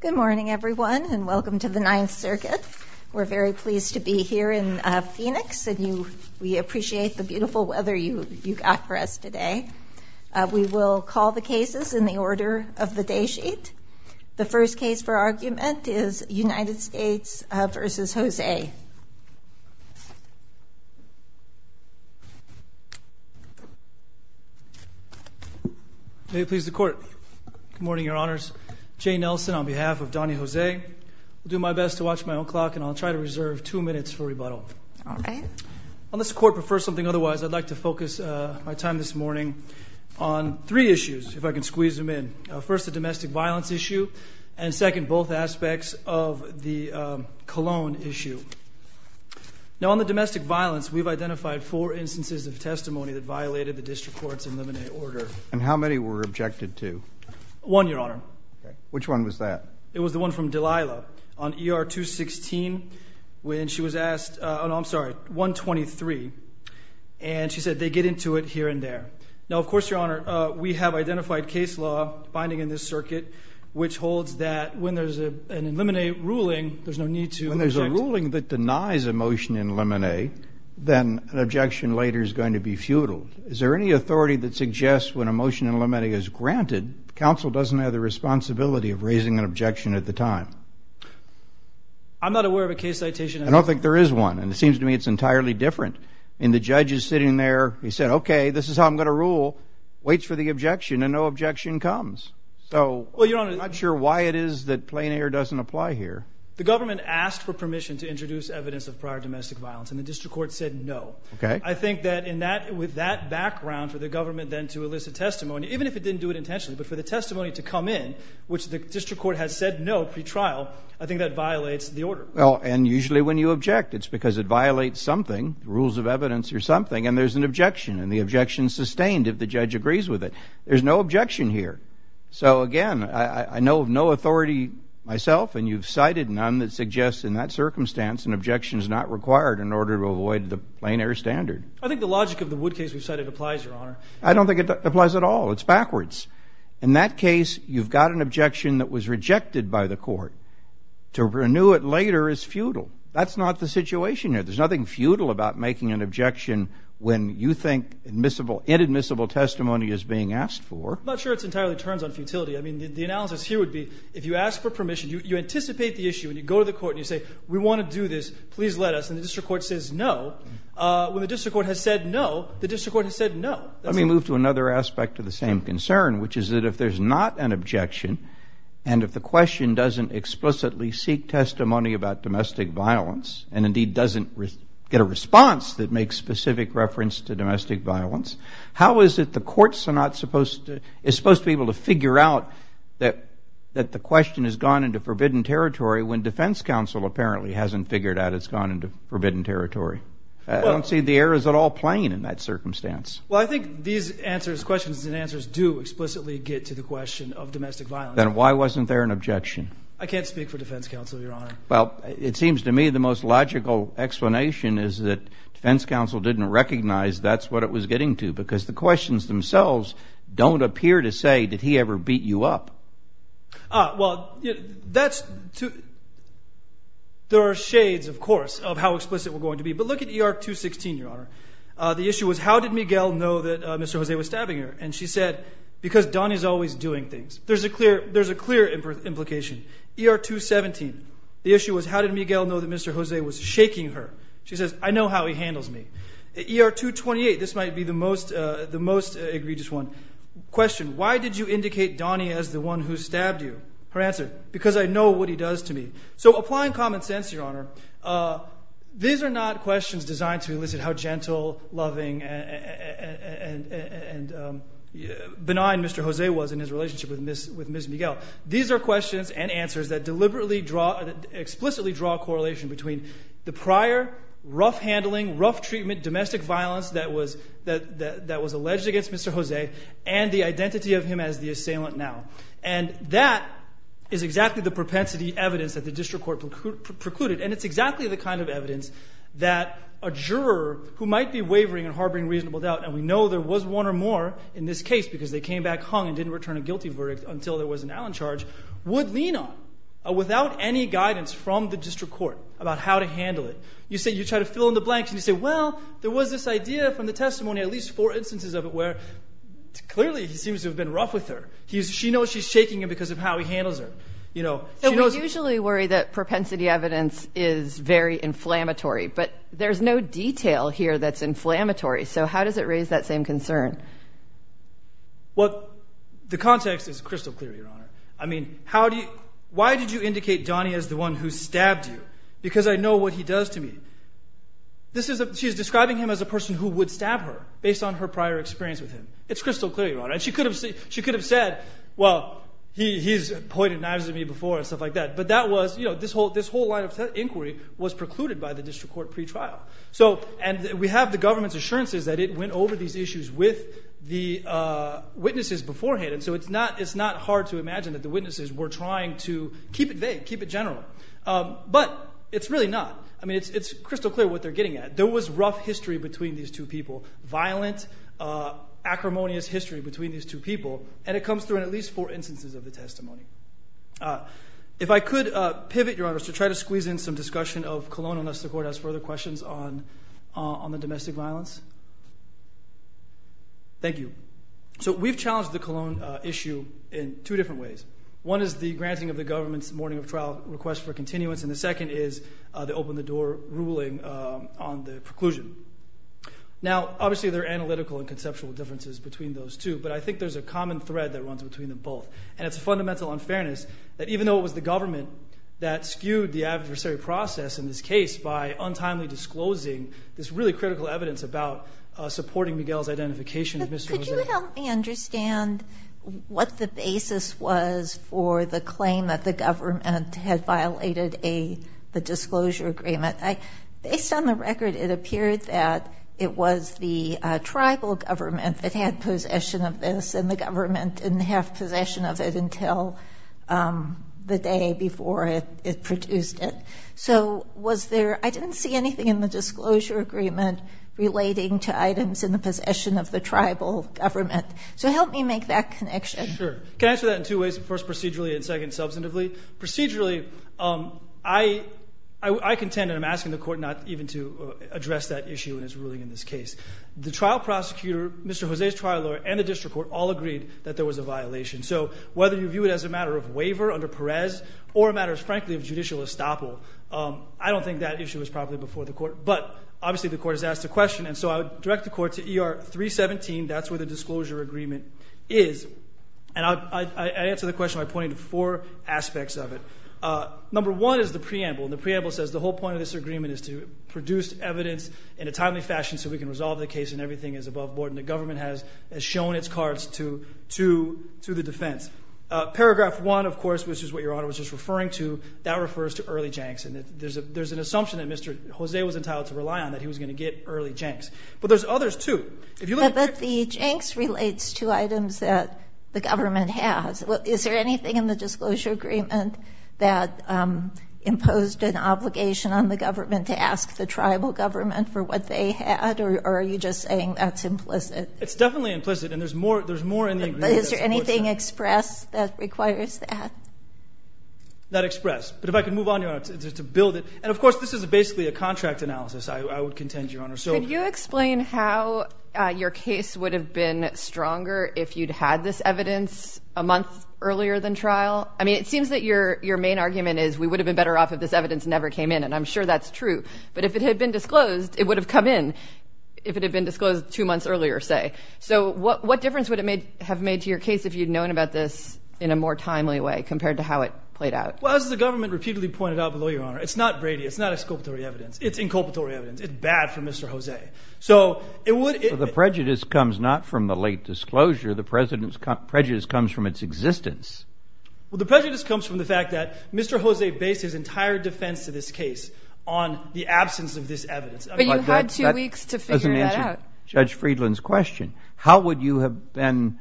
Good morning everyone and welcome to the Ninth Circuit. We're very pleased to be here in Phoenix and we appreciate the beautiful weather you got for us today. We will call the cases in the order of the day sheet. The first case for argument is United States v. Jose. May it please the court. Good morning, your honors. Jay Nelson on behalf of Donnie Jose. I'll do my best to watch my own clock and I'll try to reserve two minutes for rebuttal. Unless the court prefers something otherwise, I'd like to focus my time this morning on three issues, if I can squeeze them in. First, the domestic violence issue and second, both aspects of the cologne issue. Now on the domestic violence, we've identified four instances of testimony that violated the district courts in limine order. And how many were objected to? One, your honor. Which one was that? It was the one from Delilah on ER 216 when she was asked, I'm sorry, 123. And she said they get into it here and there. Now, of course, your honor, we have identified case law binding in this circuit, which holds that when there's a limine ruling, there's no need to. When there's a ruling that denies a motion in limine, then an objection later is going to be futile. Is there any authority that suggests when a motion in limine is granted, counsel doesn't have the responsibility of raising an objection at the time? I'm not aware of a case citation. I don't think there is one. And it seems to me it's entirely different. And the judge is sitting there, he said, okay, this is how I'm going to rule, waits for the objection and no objection comes. So I'm not sure why it is that plain air doesn't apply here. The government asked for permission to introduce evidence of prior domestic violence and the district court said no. I think that with that background for the government then to elicit testimony, even if it didn't do it intentionally, but for the testimony to come in, which the district court has said no pre-trial, I think that violates the order. And usually when you object, it's because it violates something, rules of evidence or something, and there's an objection. And the objection is sustained if the judge agrees with it. There's no objection here. So again, I know of no authority myself, and you've cited none that suggests in that circumstance an objection is not required in order to avoid the plain air standard. I think the logic of the Wood case we've cited applies, Your Honor. I don't think it applies at all. It's backwards. In that case, you've got an objection that was rejected by the court. To renew it later is futile. That's not the situation here. There's nothing futile about making an objection when you think admissible, inadmissible testimony is being asked for. I'm not sure it entirely turns on futility. I mean, the analysis here would be if you ask for permission, you anticipate the issue and you go to the court and you say, we want to do this, please let us. And the district court says no. When the district court has said no, the district court has said no. Let me move to another aspect of the same concern, which is that if there's not an objection and if the question doesn't explicitly seek testimony about domestic violence and indeed doesn't get a response that makes specific reference to domestic violence, how is it the courts are not supposed to be able to figure out that the question has gone into forbidden territory when defense counsel apparently hasn't figured out it's gone into forbidden territory? I don't see the errors at all playing in that circumstance. Well, I think these answers, questions and answers, do explicitly get to the question of domestic violence. Then why wasn't there an objection? I can't speak for defense counsel, Your Honor. Well, it seems to me the most logical explanation is that defense counsel didn't recognize that's what it was getting to because the questions themselves don't appear to say, did he ever beat you up? Well, there are shades, of course, of how explicit we're going to be. But look at ER 216, Your Honor. The issue was, how did Miguel know that Mr. Jose was stabbing her? And she said, because Donnie's always doing things. There's a clear implication. ER 217, the issue was, how did Miguel know that Mr. Jose was shaking her? She says, I know how he handles me. ER 228, this might be the most egregious one. Question, why did you indicate Donnie as the one who stabbed you? Her answer, because I know what he does to me. So applying common sense, Your Honor, these are not questions designed to elicit how gentle, loving, and benign Mr. Jose was in his relationship with Ms. Miguel. These are questions and answers that deliberately draw, explicitly draw a correlation between the prior rough handling, rough treatment, domestic violence that was alleged against Mr. Jose and the identity of him as the assailant now. And that is exactly the propensity evidence that the district court precluded. And it's exactly the kind of evidence that a juror who might be wavering and harboring reasonable doubt, and we know there was one or more in this case because they came back hung and didn't return a guilty verdict until there was an Allen charge, would lean on without any guidance from the district court about how to handle it. You try to fill in the blanks and you say, well, there was this idea from the testimony, at least four instances of it, where clearly he seems to have been rough with her. She knows she's shaking him because of how he handles her. We usually worry that propensity evidence is very inflammatory, but there's no detail here that's inflammatory. So how does it raise that same concern? Well, the context is crystal clear, Your Honor. I mean, why did you indicate Donnie as the one who stabbed you? Because I know what he does to me. She's describing him as a person who would stab her based on her prior experience with him. It's crystal clear, Your Honor. And she could have said, well, he's pointed knives at me before and stuff like that. But that was, you know, this whole line of inquiry was precluded by the district court pretrial. And we have the government's assurances that it went over these issues with the witnesses beforehand, and so it's not hard to imagine that the witnesses were trying to keep it vague, keep it general. But it's really not. I mean, it's crystal clear what they're getting at. There was rough history between these two people, violent, acrimonious history between these two people, and it comes through in at least four instances of the testimony. If I could pivot, Your Honor, to try to squeeze in some discussion of Cologne unless the Court has further questions on the domestic violence. Thank you. So we've challenged the Cologne issue in two different ways. One is the granting of the government's morning of trial request for continuance, and the second is the open-the-door ruling on the preclusion. Now, obviously there are analytical and conceptual differences between those two, but I think there's a common thread that runs between them both, and it's a fundamental unfairness that even though it was the government that skewed the adversary process in this case by untimely disclosing this really critical evidence about supporting Miguel's identification. Could you help me understand what the basis was for the claim that the government had violated the disclosure agreement? Based on the record, it appeared that it was the tribal government that had possession of this and the government didn't have possession of it until the day before it produced it. So was there – I didn't see anything in the disclosure agreement relating to items in the possession of the tribal government. So help me make that connection. Sure. Can I answer that in two ways, first procedurally and second substantively? Procedurally, I contend, and I'm asking the Court not even to address that issue in its ruling in this case. The trial prosecutor, Mr. Jose's trial lawyer, and the district court all agreed that there was a violation. So whether you view it as a matter of waiver under Perez or a matter, frankly, of judicial estoppel, I don't think that issue was properly before the Court, but obviously the Court has asked a question, and so I would direct the Court to ER 317. That's where the disclosure agreement is, and I answer the question by pointing to four aspects of it. Number one is the preamble, and the preamble says the whole point of this agreement is to produce evidence in a timely fashion so we can resolve the case and everything is above board, and the government has shown its cards to the defense. Paragraph 1, of course, which is what Your Honor was just referring to, that refers to early janks, and there's an assumption that Mr. Jose was entitled to rely on, that he was going to get early janks. But there's others, too. If you look at the – But the janks relates to items that the government has. Is there anything in the disclosure agreement that imposed an obligation on the government to ask the tribal government for what they had, or are you just saying that's implicit? It's definitely implicit, and there's more in the agreement that supports that. But is there anything expressed that requires that? Not expressed. But if I could move on, Your Honor, to build it. And, of course, this is basically a contract analysis, I would contend, Your Honor. Could you explain how your case would have been stronger if you'd had this evidence a month earlier than trial? I mean, it seems that your main argument is we would have been better off if this evidence never came in, and I'm sure that's true. But if it had been disclosed, it would have come in if it had been disclosed two months earlier, say. So what difference would it have made to your case if you'd known about this in a more timely way compared to how it played out? Well, as the government repeatedly pointed out below, Your Honor, it's not Brady. It's not exculpatory evidence. It's inculpatory evidence. It's bad for Mr. Jose. So it would – But the prejudice comes not from the late disclosure. The prejudice comes from its existence. Well, the prejudice comes from the fact that Mr. Jose based his entire defense to this case on the absence of this evidence. But you had two weeks to figure that out. That doesn't answer Judge Friedland's question. How would you have been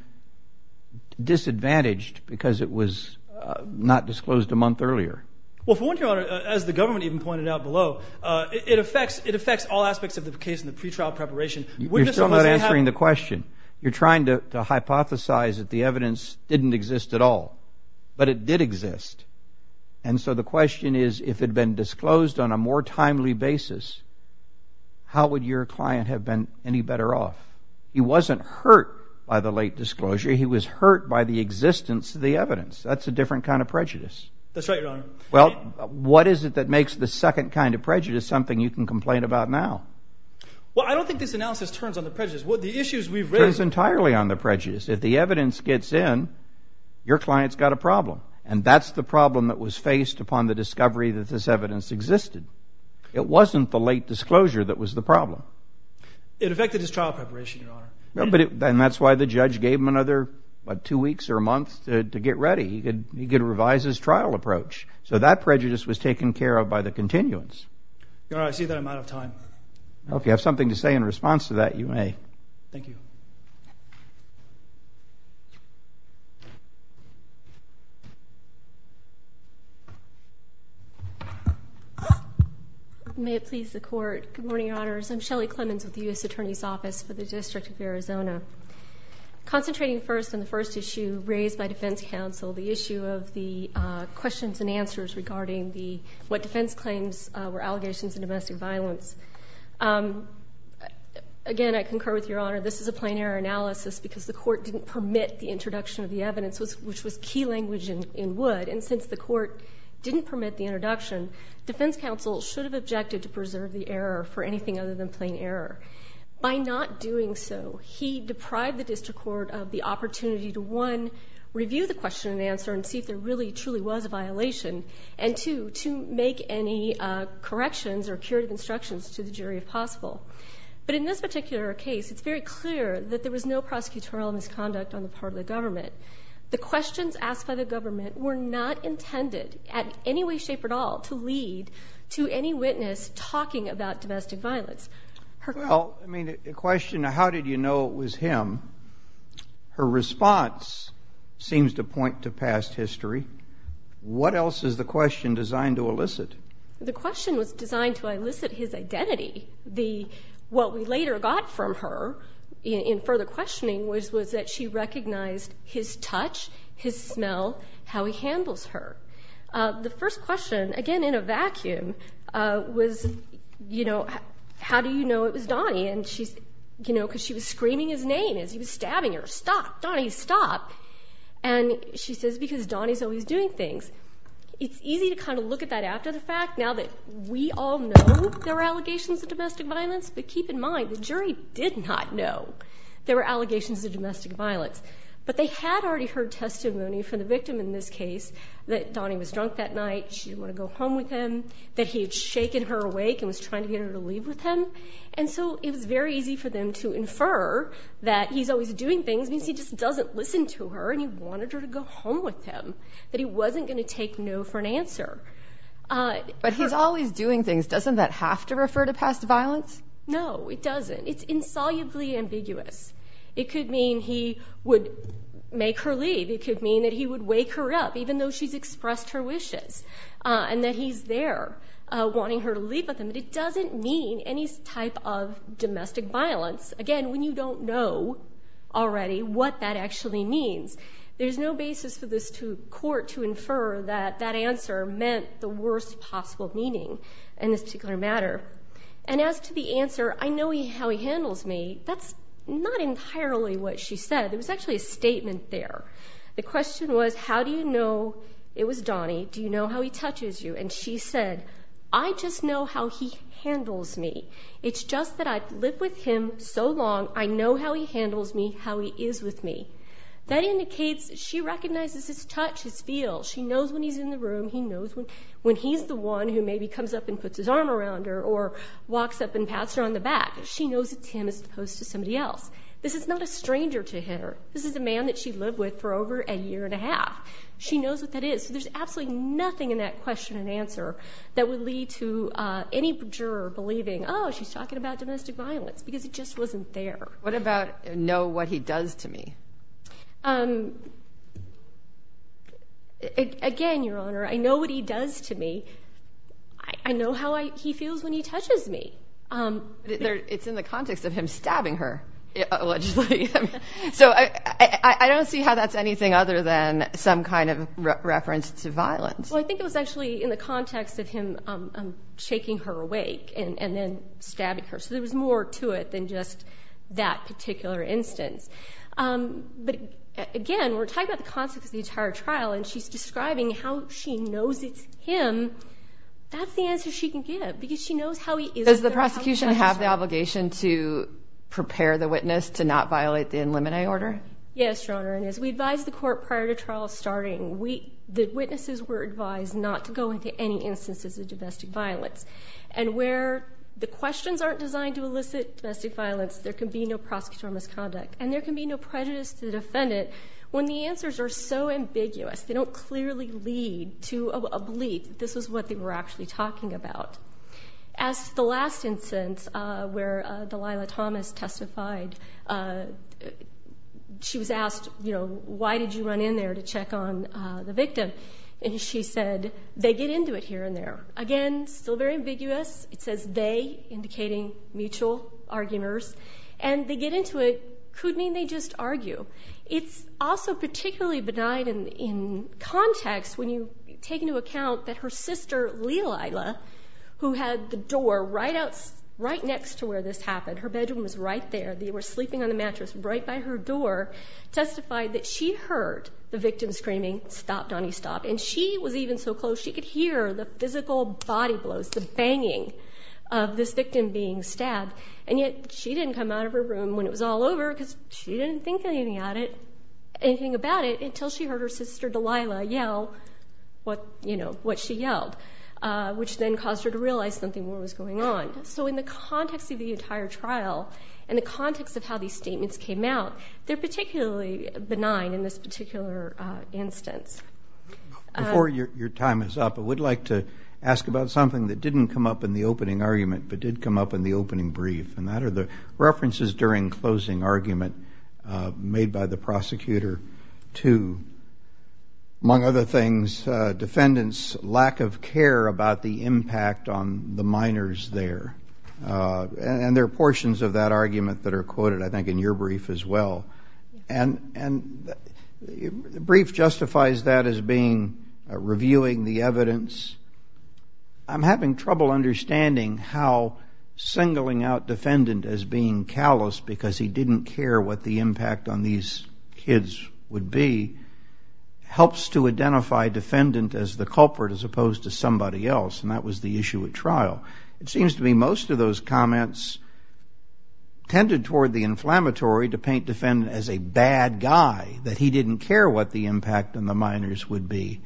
disadvantaged because it was not disclosed a month earlier? Well, for one, Your Honor, as the government even pointed out below, it affects all aspects of the case in the pretrial preparation. You're still not answering the question. You're trying to hypothesize that the evidence didn't exist at all. But it did exist. And so the question is if it had been disclosed on a more timely basis, how would your client have been any better off? He wasn't hurt by the late disclosure. He was hurt by the existence of the evidence. That's a different kind of prejudice. That's right, Your Honor. Well, what is it that makes the second kind of prejudice something you can complain about now? Well, I don't think this analysis turns on the prejudice. The issues we've raised – It turns entirely on the prejudice. If the evidence gets in, your client's got a problem. And that's the problem that was faced upon the discovery that this evidence existed. It wasn't the late disclosure that was the problem. It affected his trial preparation, Your Honor. And that's why the judge gave him another, what, two weeks or a month to get ready. He could revise his trial approach. So that prejudice was taken care of by the continuance. Your Honor, I see that I'm out of time. If you have something to say in response to that, you may. Thank you. May it please the Court. Good morning, Your Honors. I'm Shelley Clemons with the U.S. Attorney's Office for the District of Arizona. Concentrating first on the first issue raised by defense counsel, the issue of the questions and answers regarding what defense claims were allegations of domestic violence. Again, I concur with Your Honor. This is a plain error analysis because the Court didn't permit the introduction of the evidence, which was key language in Wood. And since the Court didn't permit the introduction, defense counsel should have objected to preserve the error for anything other than plain error. By not doing so, he deprived the district court of the opportunity to, one, review the question and answer and see if there really, truly was a violation, and two, to make any corrections or curative instructions to the jury if possible. But in this particular case, it's very clear that there was no prosecutorial misconduct on the part of the government. The questions asked by the government were not intended in any way, shape, or at all to lead to any witness talking about domestic violence. Well, I mean, the question of how did you know it was him, her response seems to point to past history. What else is the question designed to elicit? The question was designed to elicit his identity. What we later got from her in further questioning was that she recognized his touch, his smell, how he handles her. The first question, again in a vacuum, was, you know, how do you know it was Donnie? And she's, you know, because she was screaming his name as he was stabbing her. Stop. Donnie, stop. And she says, because Donnie's always doing things. It's easy to kind of look at that after the fact now that we all know there are allegations of domestic violence, but keep in mind the jury did not know there were allegations of domestic violence. But they had already heard testimony from the victim in this case that Donnie was drunk that night, she didn't want to go home with him, that he had shaken her awake and was trying to get her to leave with him. And so it was very easy for them to infer that he's always doing things means he just doesn't listen to her and he wanted her to go home with him, that he wasn't going to take no for an answer. But he's always doing things. Doesn't that have to refer to past violence? No, it doesn't. It's insolubly ambiguous. It could mean he would make her leave. It could mean that he would wake her up even though she's expressed her wishes and that he's there wanting her to leave with him. But it doesn't mean any type of domestic violence. Again, when you don't know already what that actually means, there's no basis for this court to infer that that answer meant the worst possible meaning in this particular matter. And as to the answer, I know how he handles me. That's not entirely what she said. There was actually a statement there. The question was, how do you know it was Donnie? Do you know how he touches you? And she said, I just know how he handles me. It's just that I've lived with him so long, I know how he handles me, how he is with me. That indicates she recognizes his touch, his feel. She knows when he's in the room. He knows when he's the one who maybe comes up and puts his arm around her or walks up and pats her on the back. She knows it's him as opposed to somebody else. This is not a stranger to her. This is a man that she lived with for over a year and a half. She knows what that is. So there's absolutely nothing in that question and answer that would lead to any juror believing, oh, she's talking about domestic violence because it just wasn't there. What about know what he does to me? Again, Your Honor, I know what he does to me. I know how he feels when he touches me. It's in the context of him stabbing her, allegedly. So I don't see how that's anything other than some kind of reference to violence. Well, I think it was actually in the context of him shaking her awake and then stabbing her. So there was more to it than just that particular instance. But, again, we're talking about the context of the entire trial, and she's describing how she knows it's him. That's the answer she can give because she knows how he is. Does the prosecution have the obligation to prepare the witness to not violate the in limine order? Yes, Your Honor, and as we advised the court prior to trial starting, the witnesses were advised not to go into any instances of domestic violence. And where the questions aren't designed to elicit domestic violence, there can be no prosecutorial misconduct, and there can be no prejudice to the defendant. When the answers are so ambiguous, they don't clearly lead to a belief. This is what they were actually talking about. As to the last instance where Delilah Thomas testified, she was asked, you know, why did you run in there to check on the victim? And she said, they get into it here and there. Again, still very ambiguous. It says they, indicating mutual arguers. And they get into it could mean they just argue. It's also particularly benign in context when you take into account that her sister, Lelilah, who had the door right next to where this happened, her bedroom was right there, they were sleeping on the mattress right by her door, testified that she heard the victim screaming, stop, Donnie, stop. And she was even so close she could hear the physical body blows, the banging of this victim being stabbed. And yet she didn't come out of her room when it was all over because she didn't think anything about it until she heard her sister, Delilah, yell what she yelled, which then caused her to realize something more was going on. So in the context of the entire trial and the context of how these statements came out, they're particularly benign in this particular instance. Before your time is up, I would like to ask about something that didn't come up in the opening argument but did come up in the opening brief, and that are the references during closing argument made by the prosecutor to, among other things, defendants' lack of care about the impact on the minors there. And there are portions of that argument that are quoted, I think, in your brief as well. And the brief justifies that as being reviewing the evidence. I'm having trouble understanding how singling out defendant as being callous because he didn't care what the impact on these kids would be helps to identify defendant as the culprit as opposed to somebody else, and that was the issue at trial. It seems to me most of those comments tended toward the inflammatory to paint defendant as a bad guy, that he didn't care what the impact on the minors would be.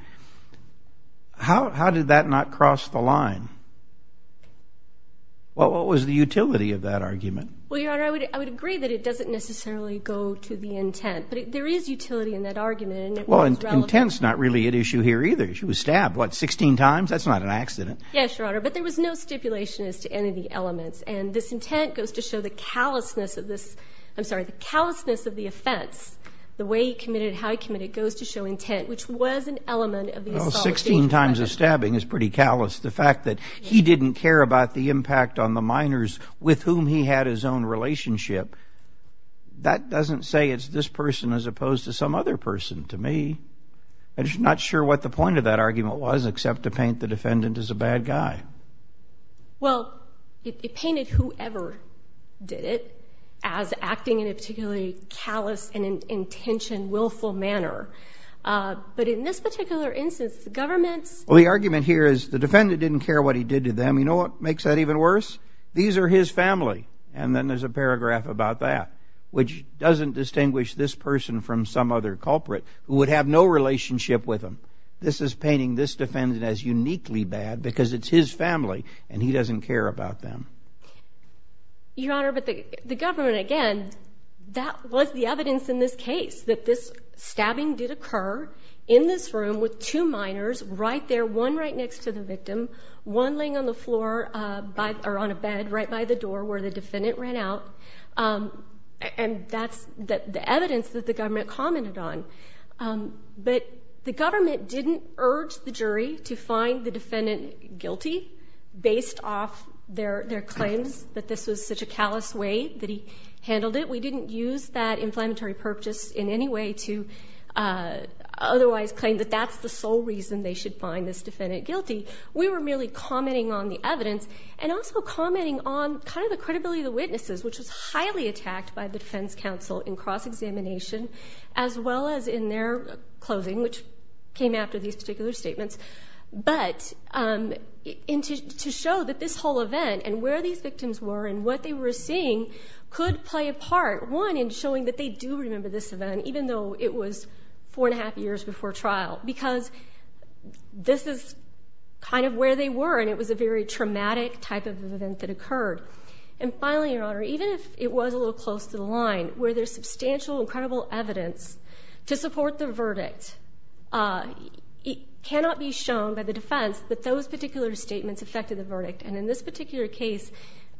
How did that not cross the line? What was the utility of that argument? Well, Your Honor, I would agree that it doesn't necessarily go to the intent, but there is utility in that argument, and it was relevant. Well, intent's not really at issue here either. She was stabbed, what, 16 times? That's not an accident. Yes, Your Honor, but there was no stipulation as to any of the elements, and this intent goes to show the callousness of this. I'm sorry, the callousness of the offense, the way he committed it, how he committed it, goes to show intent, which was an element of the assault. Well, 16 times of stabbing is pretty callous. The fact that he didn't care about the impact on the minors with whom he had his own relationship, that doesn't say it's this person as opposed to some other person to me. I'm just not sure what the point of that argument was except to paint the defendant as a bad guy. Well, it painted whoever did it as acting in a particularly callous and intentioned, willful manner. But in this particular instance, the government's – Well, the argument here is the defendant didn't care what he did to them. You know what makes that even worse? These are his family, and then there's a paragraph about that, which doesn't distinguish this person from some other culprit who would have no relationship with him. This is painting this defendant as uniquely bad because it's his family, and he doesn't care about them. Your Honor, but the government, again, that was the evidence in this case, that this stabbing did occur in this room with two minors right there, one right next to the victim, one laying on the floor or on a bed right by the door where the defendant ran out. And that's the evidence that the government commented on. But the government didn't urge the jury to find the defendant guilty based off their claims that this was such a callous way that he handled it. We didn't use that inflammatory purpose in any way to otherwise claim that that's the sole reason they should find this defendant guilty. We were merely commenting on the evidence and also commenting on kind of the credibility of the witnesses, which was highly attacked by the defense counsel in cross-examination as well as in their closing, which came after these particular statements, but to show that this whole event and where these victims were and what they were seeing could play a part, one, in showing that they do remember this event, even though it was four and a half years before trial, because this is kind of where they were and it was a very traumatic type of event that occurred. And finally, Your Honor, even if it was a little close to the line, where there's substantial, incredible evidence to support the verdict, it cannot be shown by the defense that those particular statements affected the verdict. And in this particular case,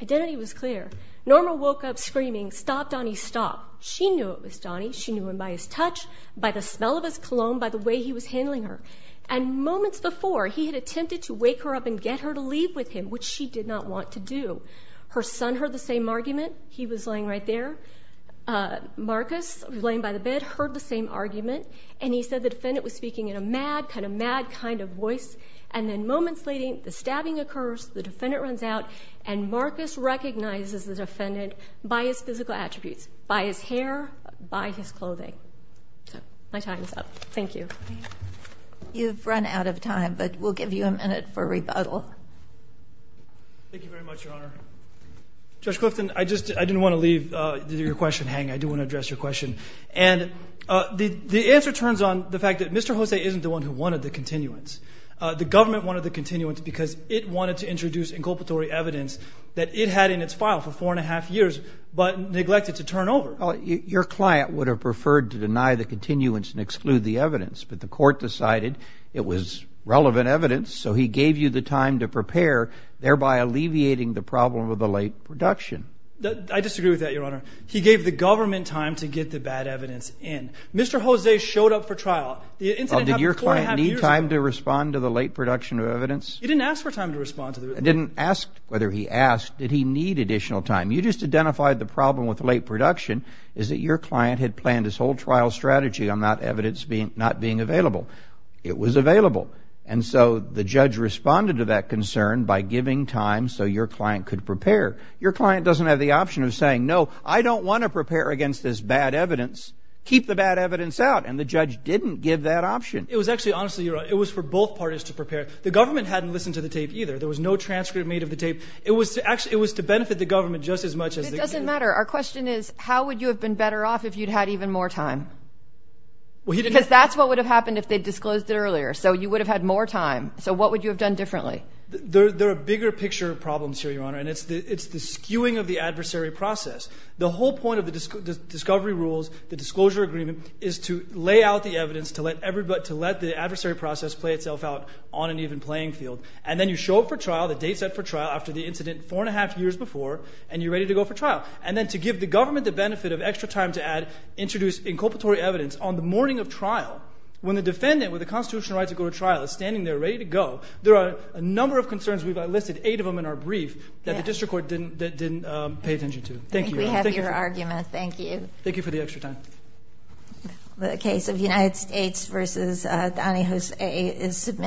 identity was clear. Norma woke up screaming, stop, Donnie, stop. She knew it was Donnie. She knew him by his touch, by the smell of his cologne, by the way he was handling her. And moments before, he had attempted to wake her up and get her to leave with him, which she did not want to do. Her son heard the same argument. He was laying right there. Marcus was laying by the bed, heard the same argument, and he said the defendant was speaking in a mad, kind of mad kind of voice. And then moments leading, the stabbing occurs, the defendant runs out, and Marcus recognizes the defendant by his physical attributes, by his hair, by his clothing. So my time is up. Thank you. You've run out of time, but we'll give you a minute for rebuttal. Thank you very much, Your Honor. Judge Clifton, I just didn't want to leave your question hanging. I do want to address your question. And the answer turns on the fact that Mr. Jose isn't the one who wanted the continuance. The government wanted the continuance because it wanted to introduce inculpatory evidence that it had in its file for four and a half years, but neglected to turn over. Your client would have preferred to deny the continuance and exclude the evidence, but the court decided it was relevant evidence, so he gave you the time to prepare, thereby alleviating the problem of the late production. I disagree with that, Your Honor. He gave the government time to get the bad evidence in. Mr. Jose showed up for trial. Well, did your client need time to respond to the late production of evidence? He didn't ask for time to respond to the evidence. He didn't ask whether he asked. Did he need additional time? You just identified the problem with late production is that your client had planned his whole trial strategy on that evidence not being available. It was available, and so the judge responded to that concern by giving time so your client could prepare. Your client doesn't have the option of saying, no, I don't want to prepare against this bad evidence. Keep the bad evidence out. And the judge didn't give that option. It was actually, honestly, Your Honor, it was for both parties to prepare. The government hadn't listened to the tape either. There was no transcript made of the tape. It was to benefit the government just as much as they could. It doesn't matter. Our question is, how would you have been better off if you'd had even more time? Because that's what would have happened if they disclosed it earlier, so you would have had more time. So what would you have done differently? There are bigger picture problems here, Your Honor, and it's the skewing of the adversary process. The whole point of the discovery rules, the disclosure agreement, is to lay out the evidence, to let the adversary process play itself out on an even playing field. And then you show up for trial, the date set for trial, after the incident four and a half years before, and you're ready to go for trial. And then to give the government the benefit of extra time to introduce inculpatory evidence on the morning of trial, when the defendant with the constitutional right to go to trial is standing there ready to go, there are a number of concerns. We've listed eight of them in our brief that the district court didn't pay attention to. Thank you, Your Honor. I think we have your argument. Thank you. Thank you for the extra time. The case of United States v. Donny Jose is submitted.